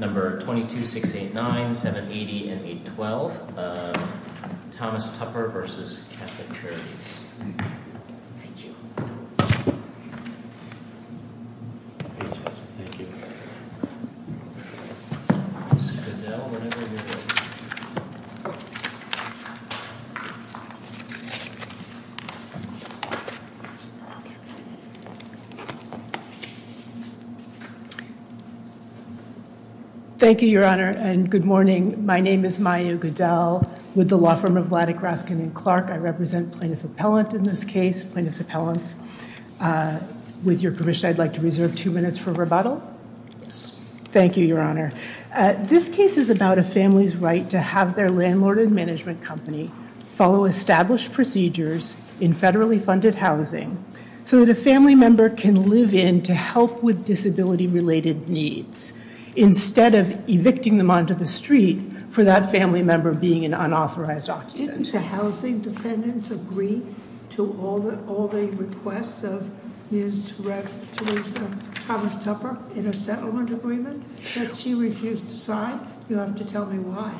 22-689-780-812 Thomas Tupper v. Catholic Charities Thank you, Your Honor, and good morning. My name is Maya Goodell with the law firm of Lattic-Raskin and Clark. I represent plaintiff appellant in this case, plaintiff's appellants. With your permission, I'd like to reserve two minutes for rebuttal. Thank you, Your Honor. This case is about a family's right to have their landlord and management company follow established procedures in federally funded housing so that a family member can live in to help with disability-related needs. Instead of evicting them onto the street for that family member being an unauthorized occupant. Didn't the housing defendants agree to all the requests of Ms. Torres-Thomas Tupper in a settlement agreement that she refused to sign? You'll have to tell me why.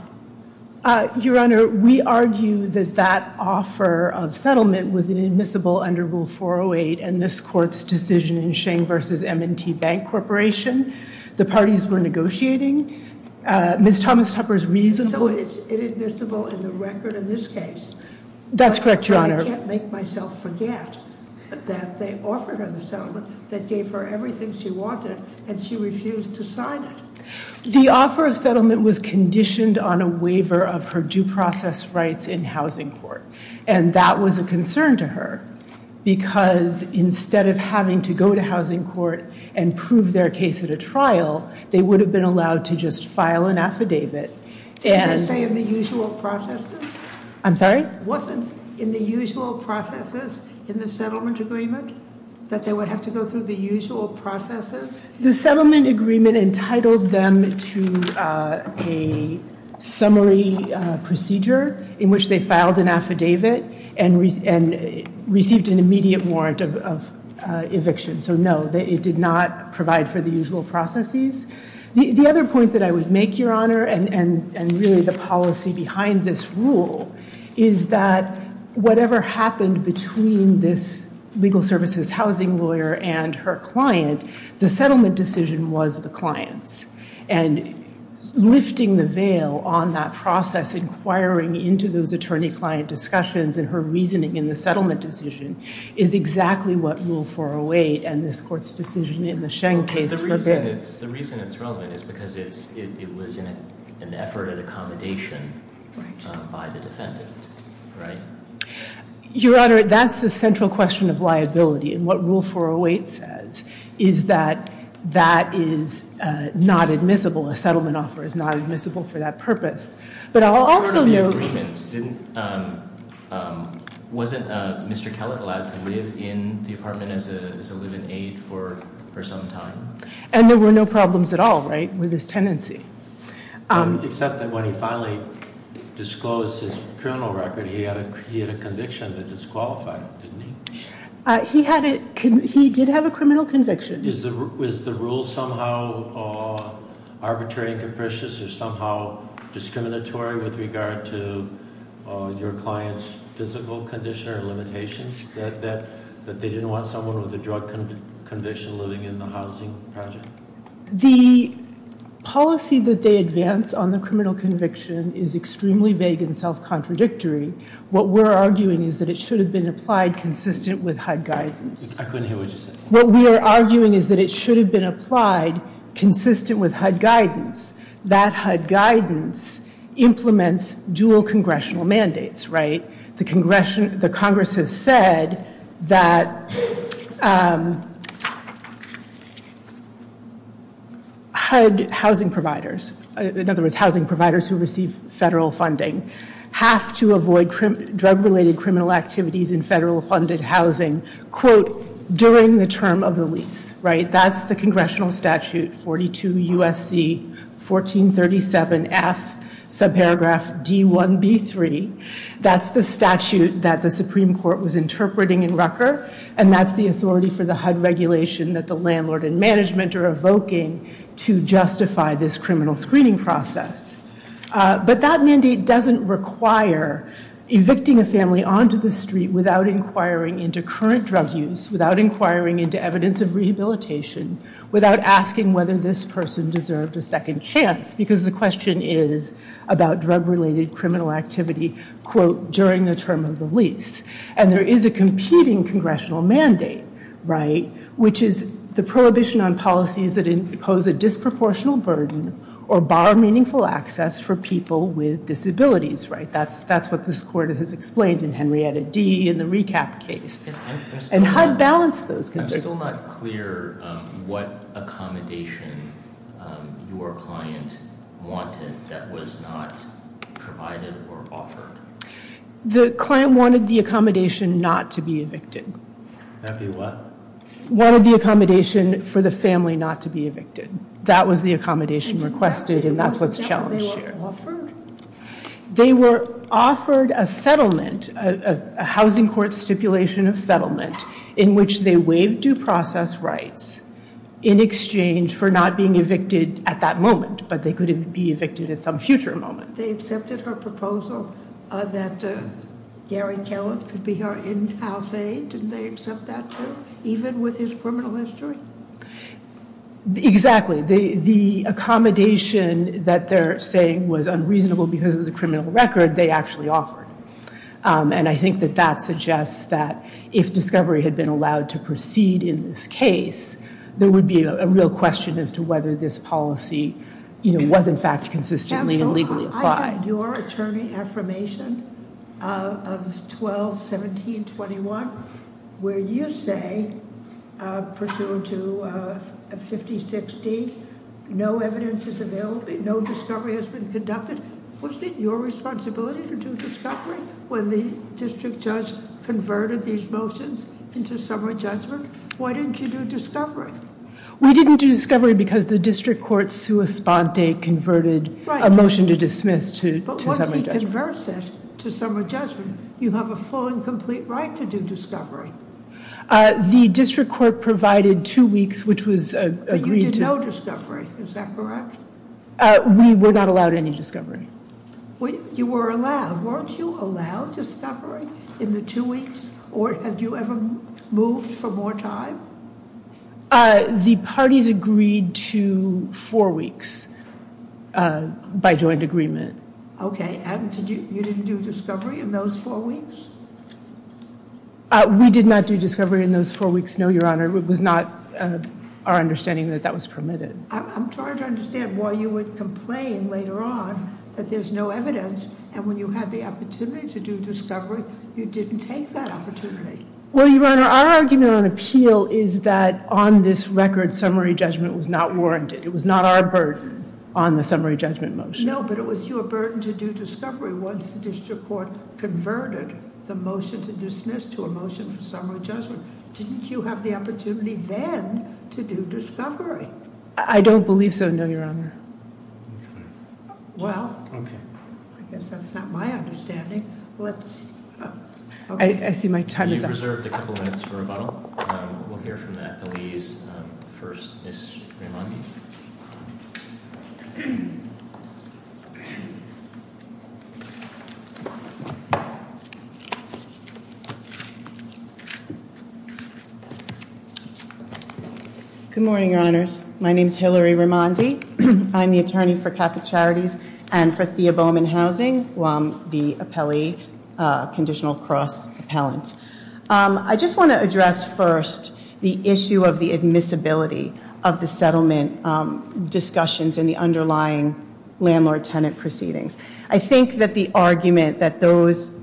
Your Honor, we argue that that offer of settlement was inadmissible under Rule 408 in this court's decision in Sheng v. M&T Bank Corporation. The parties were negotiating. Ms. Thomas Tupper's reasonable... So it's inadmissible in the record in this case. That's correct, Your Honor. I can't make myself forget that they offered her the settlement that gave her everything she wanted and she refused to sign it. The offer of settlement was conditioned on a waiver of her due process rights in housing court and that was a concern to her because instead of having to go to housing court and prove their case at a trial, they would have been allowed to just file an affidavit. Did they say in the usual processes? I'm sorry? Wasn't in the usual processes in the settlement agreement that they would have to go through the usual processes? The settlement agreement entitled them to a summary procedure in which they filed an affidavit and received an immediate warrant of eviction. So no, it did not provide for the usual processes. The other point that I would make, Your Honor, and really the policy behind this rule, is that whatever happened between this legal services housing lawyer and her client, the settlement decision was the client's. And lifting the veil on that process, inquiring into those attorney-client discussions and her reasoning in the settlement decision is exactly what Rule 408 and this court's decision in the Sheng case forbid. The reason it's relevant is because it was an effort at accommodation by the defendant, right? Your Honor, that's the central question of liability and what Rule 408 says is that that is not admissible. A settlement offer is not admissible for that purpose. But I'll also note- But part of the agreement didn't- wasn't Mr. Kellett allowed to live in the apartment as a live-in aide for some time? And there were no problems at all, right, with his tenancy? Except that when he finally disclosed his criminal record, he had a conviction that disqualified him, didn't he? He did have a criminal conviction. Is the rule somehow arbitrary and capricious or somehow discriminatory with regard to your client's physical condition or limitations, that they didn't want someone with a drug conviction living in the housing project? The policy that they advance on the criminal conviction is extremely vague and self-contradictory. What we're arguing is that it should have been applied consistent with HUD guidance. I couldn't hear what you said. What we are arguing is that it should have been applied consistent with HUD guidance. That HUD guidance implements dual congressional mandates, right? The Congress has said that HUD housing providers, in other words, housing providers who receive federal funding, have to avoid drug-related criminal activities in federal-funded housing, quote, during the term of the lease, right? That's the congressional statute, 42 U.S.C. 1437F, subparagraph D1B3. That's the statute that the Supreme Court was interpreting in Rutger, and that's the authority for the HUD regulation that the landlord and management are evoking to justify this criminal screening process. But that mandate doesn't require evicting a family onto the street without inquiring into current drug use, without inquiring into evidence of rehabilitation, without asking whether this person deserved a second chance, because the question is about drug-related criminal activity, quote, during the term of the lease. And there is a competing congressional mandate, right, which is the prohibition on policies that impose a disproportional burden or bar meaningful access for people with disabilities, right? That's what this court has explained in Henrietta D. in the recap case. And HUD balanced those conditions. I'm still not clear what accommodation your client wanted that was not provided or offered. The client wanted the accommodation not to be evicted. That'd be what? Wanted the accommodation for the family not to be evicted. That was the accommodation requested, and that's what's challenged here. Offered? They were offered a settlement, a housing court stipulation of settlement, in which they waived due process rights in exchange for not being evicted at that moment, but they could be evicted at some future moment. They accepted her proposal that Gary Kellett could be her in-house aide? Didn't they accept that too, even with his criminal history? Exactly. The accommodation that they're saying was unreasonable because of the criminal record, they actually offered. And I think that that suggests that if discovery had been allowed to proceed in this case, there would be a real question as to whether this policy, you know, was in fact consistently and legally applied. You had your attorney affirmation of 12-17-21 where you say, pursuant to 50-60, no evidence is available, no discovery has been conducted. Wasn't it your responsibility to do discovery when the district judge converted these motions into summary judgment? Why didn't you do discovery? We didn't do discovery because the district court sua sponte converted a motion to dismiss to summary judgment. But once he converts it to summary judgment, you have a full and complete right to do discovery. The district court provided two weeks, which was agreed to. But you did no discovery. Is that correct? We were not allowed any discovery. You were allowed. Weren't you allowed discovery in the two weeks? Or have you ever moved for more time? The parties agreed to four weeks by joint agreement. Okay. And you didn't do discovery in those four weeks? We did not do discovery in those four weeks, no, Your Honor. It was not our understanding that that was permitted. I'm trying to understand why you would complain later on that there's no evidence and when you had the opportunity to do discovery, you didn't take that opportunity. Well, Your Honor, our argument on appeal is that on this record, summary judgment was not warranted. It was not our burden on the summary judgment motion. No, but it was your burden to do discovery once the district court converted the motion to dismiss to a motion for summary judgment. Didn't you have the opportunity then to do discovery? I don't believe so, no, Your Honor. Well, I guess that's not my understanding. I see my time is up. You've reserved a couple minutes for rebuttal. We'll hear from the FLEs first, Ms. Rimondi. Good morning, Your Honors. My name is Hillary Rimondi. I'm the attorney for Catholic Charities and for Theoboman Housing, the appellee conditional cross appellant. I just want to address first the issue of the admissibility of the settlement discussions in the underlying landlord-tenant proceedings. I think that the argument that those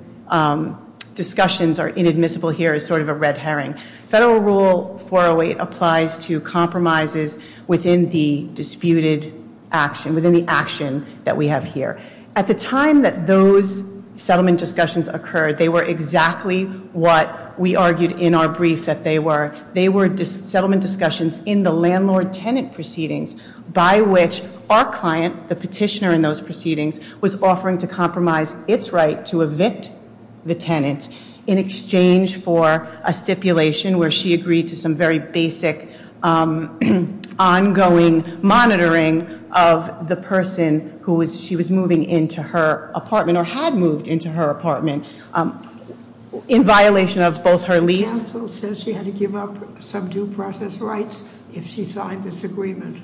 discussions are inadmissible here is sort of a red herring. Federal Rule 408 applies to compromises within the disputed action, within the action that we have here. At the time that those settlement discussions occurred, they were exactly what we argued in our brief that they were. They were settlement discussions in the landlord-tenant proceedings by which our client, the petitioner in those proceedings, was offering to compromise its right to evict the tenant in exchange for a stipulation where she agreed to some very basic ongoing monitoring of the person who she was moving into her apartment or had moved into her apartment in violation of both her lease. The counsel says she had to give up some due process rights if she signed this agreement.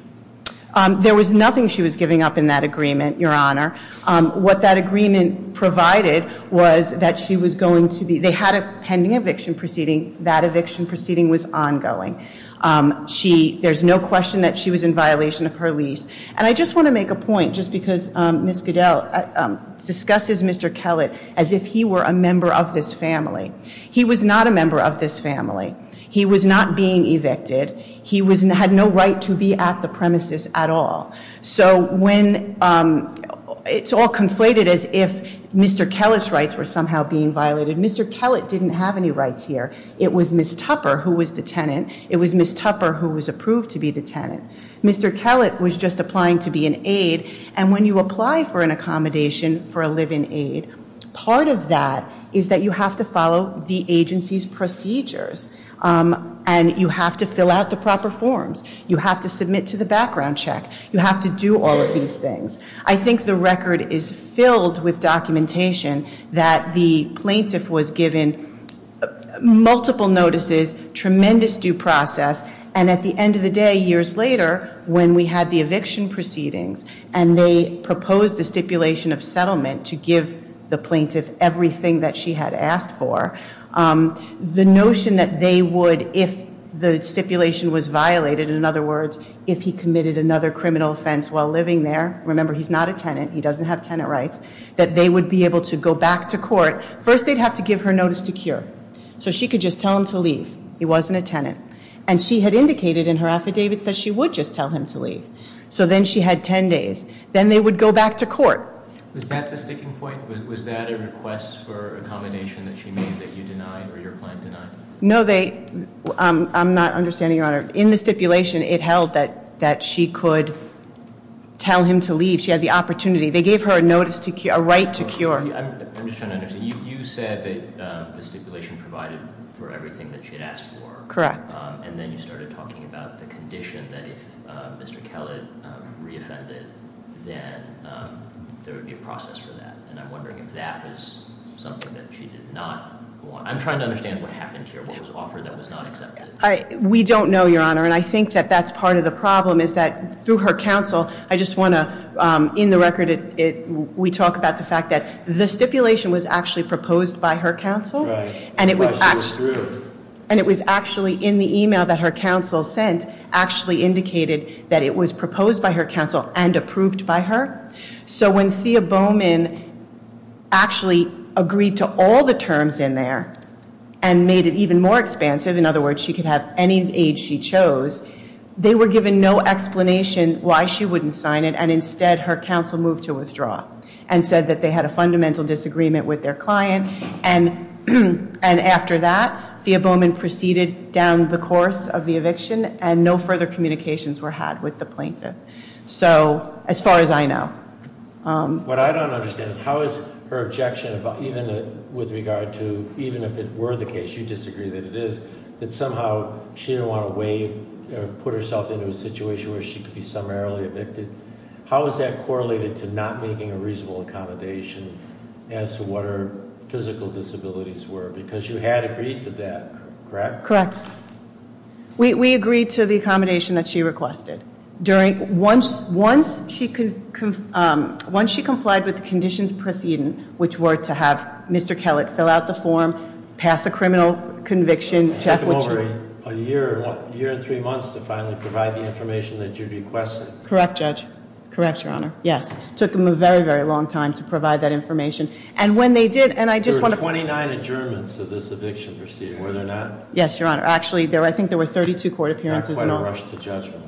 There was nothing she was giving up in that agreement, Your Honor. What that agreement provided was that she was going to be, they had a pending eviction proceeding. That eviction proceeding was ongoing. She, there's no question that she was in violation of her lease. And I just want to make a point just because Ms. Goodell discusses Mr. Kellett as if he were a member of this family. He was not a member of this family. He was not being evicted. He had no right to be at the premises at all. So when, it's all conflated as if Mr. Kellett's rights were somehow being violated. Mr. Kellett didn't have any rights here. It was Ms. Tupper who was the tenant. It was Ms. Tupper who was approved to be the tenant. Mr. Kellett was just applying to be an aide. And when you apply for an accommodation for a live-in aide, part of that is that you have to follow the agency's procedures. And you have to fill out the proper forms. You have to submit to the background check. You have to do all of these things. I think the record is filled with documentation that the plaintiff was given multiple notices, tremendous due process. And at the end of the day, years later, when we had the eviction proceedings, and they proposed the stipulation of settlement to give the plaintiff everything that she had asked for, the notion that they would, if the stipulation was violated, in other words, if he committed another criminal offense while living there, remember he's not a tenant, he doesn't have tenant rights, that they would be able to go back to court. First, they'd have to give her notice to cure. So she could just tell him to leave. He wasn't a tenant. And she had indicated in her affidavits that she would just tell him to leave. So then she had ten days. Then they would go back to court. Was that the sticking point? Was that a request for accommodation that she made that you denied or your client denied? No, I'm not understanding, Your Honor. In the stipulation, it held that she could tell him to leave. She had the opportunity. They gave her a right to cure. I'm just trying to understand. You said that the stipulation provided for everything that she had asked for. Correct. And then you started talking about the condition that if Mr. Kellett reoffended, then there would be a process for that. And I'm wondering if that is something that she did not want. I'm trying to understand what happened here, what was offered that was not accepted. We don't know, Your Honor, and I think that that's part of the problem, is that through her counsel, I just want to, in the record, we talk about the fact that the stipulation was actually proposed by her counsel. Right. And it was actually in the email that her counsel sent, actually indicated that it was proposed by her counsel and approved by her. So when Thea Bowman actually agreed to all the terms in there and made it even more expansive, in other words, she could have any age she chose, they were given no explanation why she wouldn't sign it, and instead her counsel moved to withdraw and said that they had a fundamental disagreement with their client and after that, Thea Bowman proceeded down the course of the eviction and no further communications were had with the plaintiff. So as far as I know. What I don't understand, how is her objection with regard to, even if it were the case, you disagree that it is, that somehow she didn't want to put herself into a situation where she could be summarily evicted. How is that correlated to not making a reasonable accommodation as to what her physical disabilities were? Because you had agreed to that, correct? Correct. We agreed to the accommodation that she requested. Once she complied with the conditions preceding, which were to have Mr. Kellett fill out the form, pass a criminal conviction, check with- It took him over a year, a year and three months to finally provide the information that you requested. Correct, Judge. Correct, Your Honor. Yes. It took him a very, very long time to provide that information. And when they did, and I just want to- There were 29 adjournments of this eviction proceeding, were there not? Yes, Your Honor. Actually, I think there were 32 court appearances in all. Not quite a rush to judgment.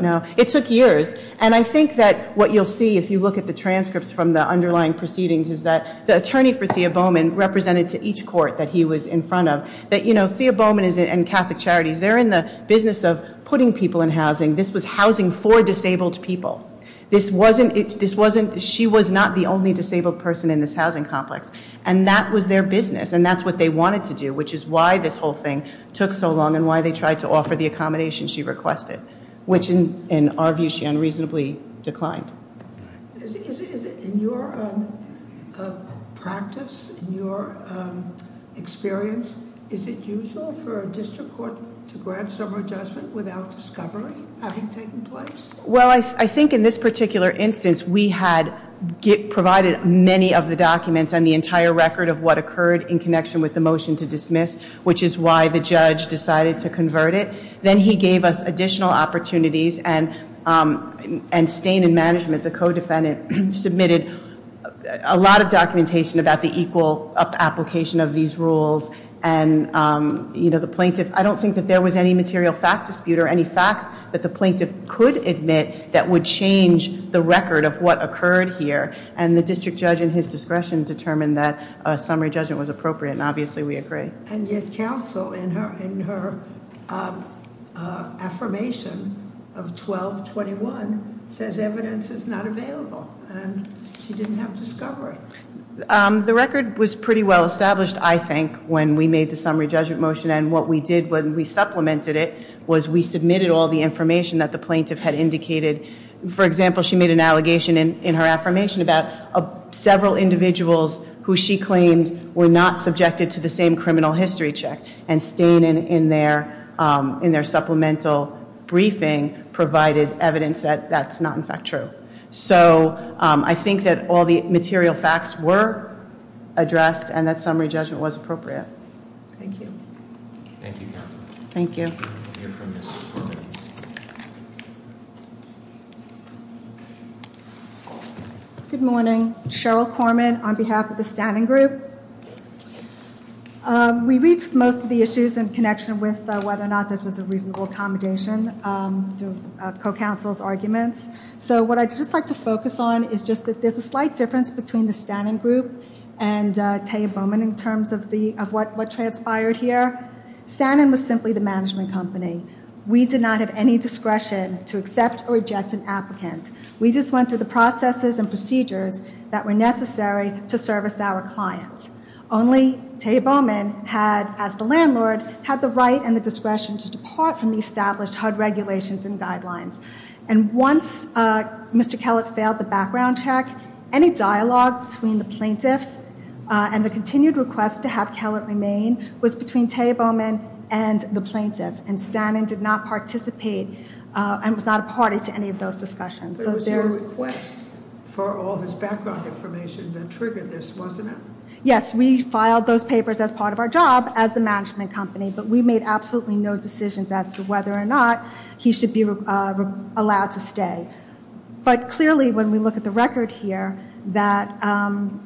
No. It took years. And I think that what you'll see if you look at the transcripts from the underlying proceedings is that the attorney for Thea Bowman represented to each court that he was in front of that, you know, Thea Bowman and Catholic Charities, they're in the business of putting people in housing. This was housing for disabled people. This wasn't, she was not the only disabled person in this housing complex. And that was their business, and that's what they wanted to do, which is why this whole thing took so long and why they tried to offer the accommodation she requested, which in our view, she unreasonably declined. In your practice, in your experience, is it usual for a district court to grant some adjustment without discovery having taken place? Well, I think in this particular instance, we had provided many of the documents and the entire record of what occurred in connection with the motion to dismiss, which is why the judge decided to convert it. Then he gave us additional opportunities and staying in management, the co-defendant submitted a lot of documentation about the equal application of these rules. And, you know, the plaintiff, I don't think that there was any material fact dispute or any facts that the plaintiff could admit that would change the record of what occurred here. And the district judge in his discretion determined that a summary judgment was appropriate, and obviously we agree. And yet counsel in her affirmation of 1221 says evidence is not available, and she didn't have discovery. The record was pretty well established, I think, when we made the summary judgment motion, and what we did when we supplemented it was we submitted all the information that the plaintiff had indicated. For example, she made an allegation in her affirmation about several individuals who she claimed were not subjected to the same criminal history check, and staying in their supplemental briefing provided evidence that that's not, in fact, true. So I think that all the material facts were addressed and that summary judgment was appropriate. Thank you. Thank you, counsel. Thank you. We'll hear from Ms. Korman. Thank you. Good morning. Cheryl Korman on behalf of the Stannin Group. We reached most of the issues in connection with whether or not this was a reasonable accommodation through co-counsel's arguments. So what I'd just like to focus on is just that there's a slight difference between the Stannin Group and Taya Bowman in terms of what transpired here. Stannin was simply the management company. We did not have any discretion to accept or reject an applicant. We just went through the processes and procedures that were necessary to service our clients. Only Taya Bowman had, as the landlord, had the right and the discretion to depart from the established HUD regulations and guidelines. And once Mr. Kellett failed the background check, any dialogue between the plaintiff and the continued request to have Kellett remain was between Taya Bowman and the plaintiff, and Stannin did not participate and was not a party to any of those discussions. It was your request for all his background information that triggered this, wasn't it? Yes, we filed those papers as part of our job as the management company, but we made absolutely no decisions as to whether or not he should be allowed to stay. But clearly, when we look at the record here, that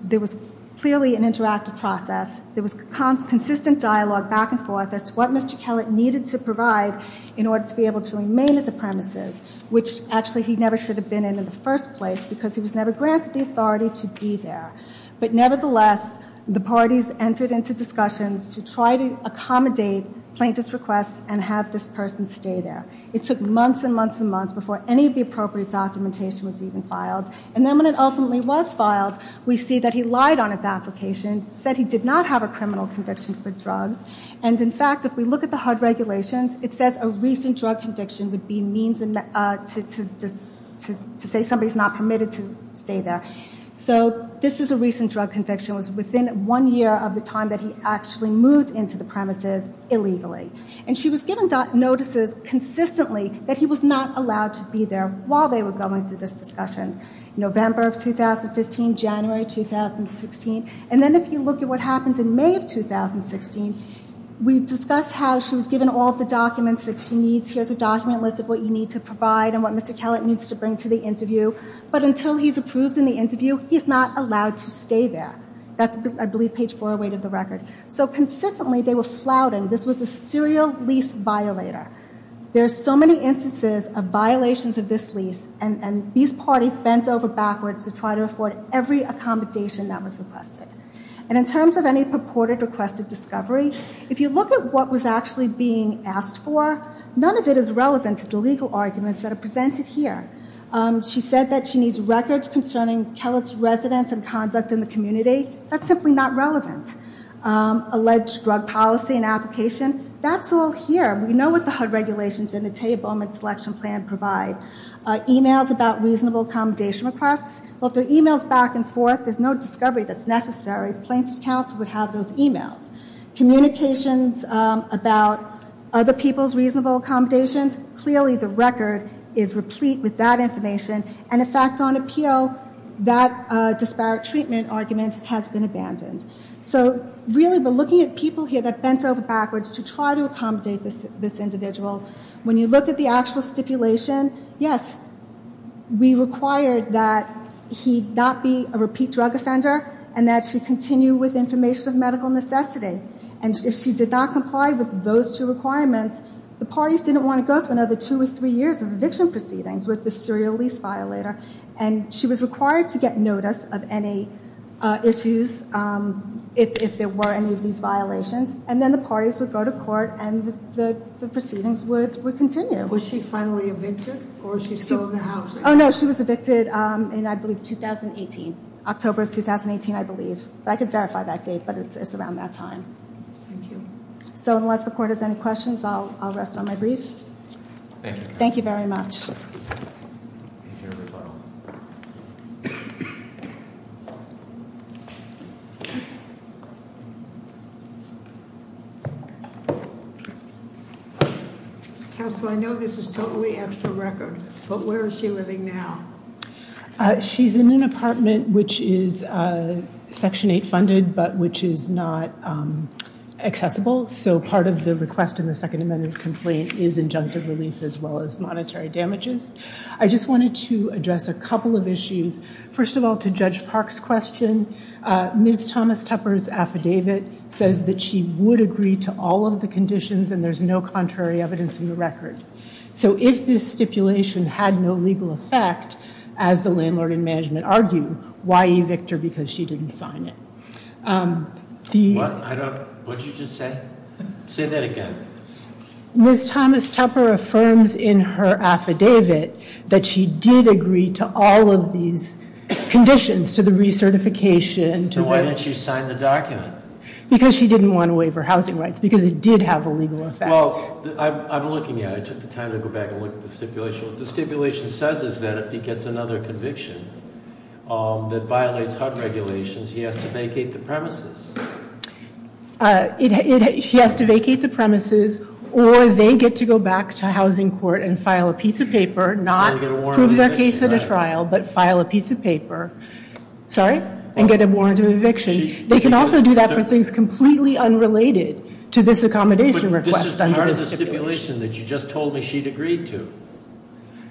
there was clearly an interactive process. There was consistent dialogue back and forth as to what Mr. Kellett needed to provide in order to be able to remain at the premises, which actually he never should have been in in the first place because he was never granted the authority to be there. But nevertheless, the parties entered into discussions to try to accommodate plaintiff's requests and have this person stay there. It took months and months and months before any of the appropriate documentation was even filed. And then when it ultimately was filed, we see that he lied on his application, said he did not have a criminal conviction for drugs. And in fact, if we look at the HUD regulations, it says a recent drug conviction would be means to say somebody is not permitted to stay there. So this is a recent drug conviction. It was within one year of the time that he actually moved into the premises illegally. And she was given notices consistently that he was not allowed to be there while they were going through this discussion, November of 2015, January 2016. And then if you look at what happened in May of 2016, we discussed how she was given all of the documents that she needs. Here's a document list of what you need to provide and what Mr. Kellett needs to bring to the interview. But until he's approved in the interview, he's not allowed to stay there. That's, I believe, page 408 of the record. So consistently, they were flouting. This was a serial lease violator. There are so many instances of violations of this lease, and these parties bent over backwards to try to afford every accommodation that was requested. And in terms of any purported requested discovery, if you look at what was actually being asked for, none of it is relevant to the legal arguments that are presented here. She said that she needs records concerning Kellett's residence and conduct in the community. That's simply not relevant. Alleged drug policy and application, that's all here. We know what the HUD regulations and the TAEA Bowman Selection Plan provide. Emails about reasonable accommodation requests, well, if there are emails back and forth, there's no discovery that's necessary. Plaintiff's counsel would have those emails. Communications about other people's reasonable accommodations, clearly the record is replete with that information. And in fact, on appeal, that disparate treatment argument has been abandoned. So really, we're looking at people here that bent over backwards to try to accommodate this individual. When you look at the actual stipulation, yes, we required that he not be a repeat drug offender and that she continue with information of medical necessity. And if she did not comply with those two requirements, the parties didn't want to go through another two or three years of eviction proceedings with the serial lease violator. And she was required to get notice of any issues if there were any of these violations. And then the parties would go to court and the proceedings would continue. Was she finally evicted or was she still in the house? Oh, no, she was evicted in, I believe, 2018, October of 2018, I believe. I could verify that date, but it's around that time. So unless the court has any questions, I'll rest on my brief. Thank you. Thank you very much. Counsel, I know this is totally extra record, but where is she living now? She's in an apartment which is Section 8 funded, but which is not accessible. So part of the request in the Second Amendment complaint is injunctive relief as well as monetary damages. I just wanted to address a couple of issues. First of all, to Judge Park's question, Ms. Thomas Tupper's affidavit says that she would agree to all of the conditions and there's no contrary evidence in the record. So if this stipulation had no legal effect, as the landlord and management argue, why evict her because she didn't sign it? What did you just say? Say that again. Ms. Thomas Tupper affirms in her affidavit that she did agree to all of these conditions, to the recertification. So why didn't she sign the document? Because she didn't want to waive her housing rights, because it did have a legal effect. Well, I'm looking at it. I took the time to go back and look at the stipulation. What the stipulation says is that if he gets another conviction that violates HUD regulations, he has to vacate the premises. He has to vacate the premises, or they get to go back to housing court and file a piece of paper, not prove their case at a trial, but file a piece of paper. Sorry? And get a warrant of eviction. They can also do that for things completely unrelated to this accommodation request under the stipulation. But this is part of the stipulation that you just told me she'd agreed to.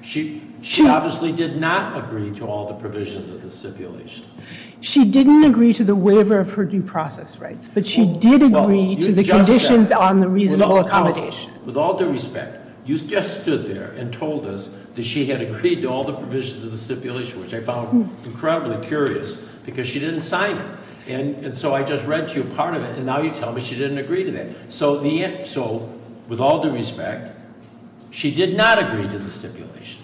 She obviously did not agree to all the provisions of the stipulation. She didn't agree to the waiver of her due process rights, but she did agree to the conditions on the reasonable accommodation. With all due respect, you just stood there and told us that she had agreed to all the provisions of the stipulation, which I found incredibly curious, because she didn't sign it. And so I just read to you part of it, and now you tell me she didn't agree to that. So with all due respect, she did not agree to the stipulation.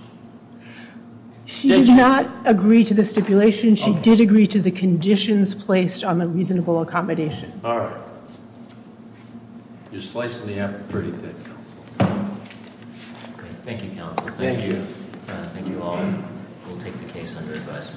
She did not agree to the stipulation. She did agree to the conditions placed on the reasonable accommodation. All right. You're slicing me up pretty good, Counsel. Thank you, Counsel. Thank you. Thank you all. We'll take the case under advisement.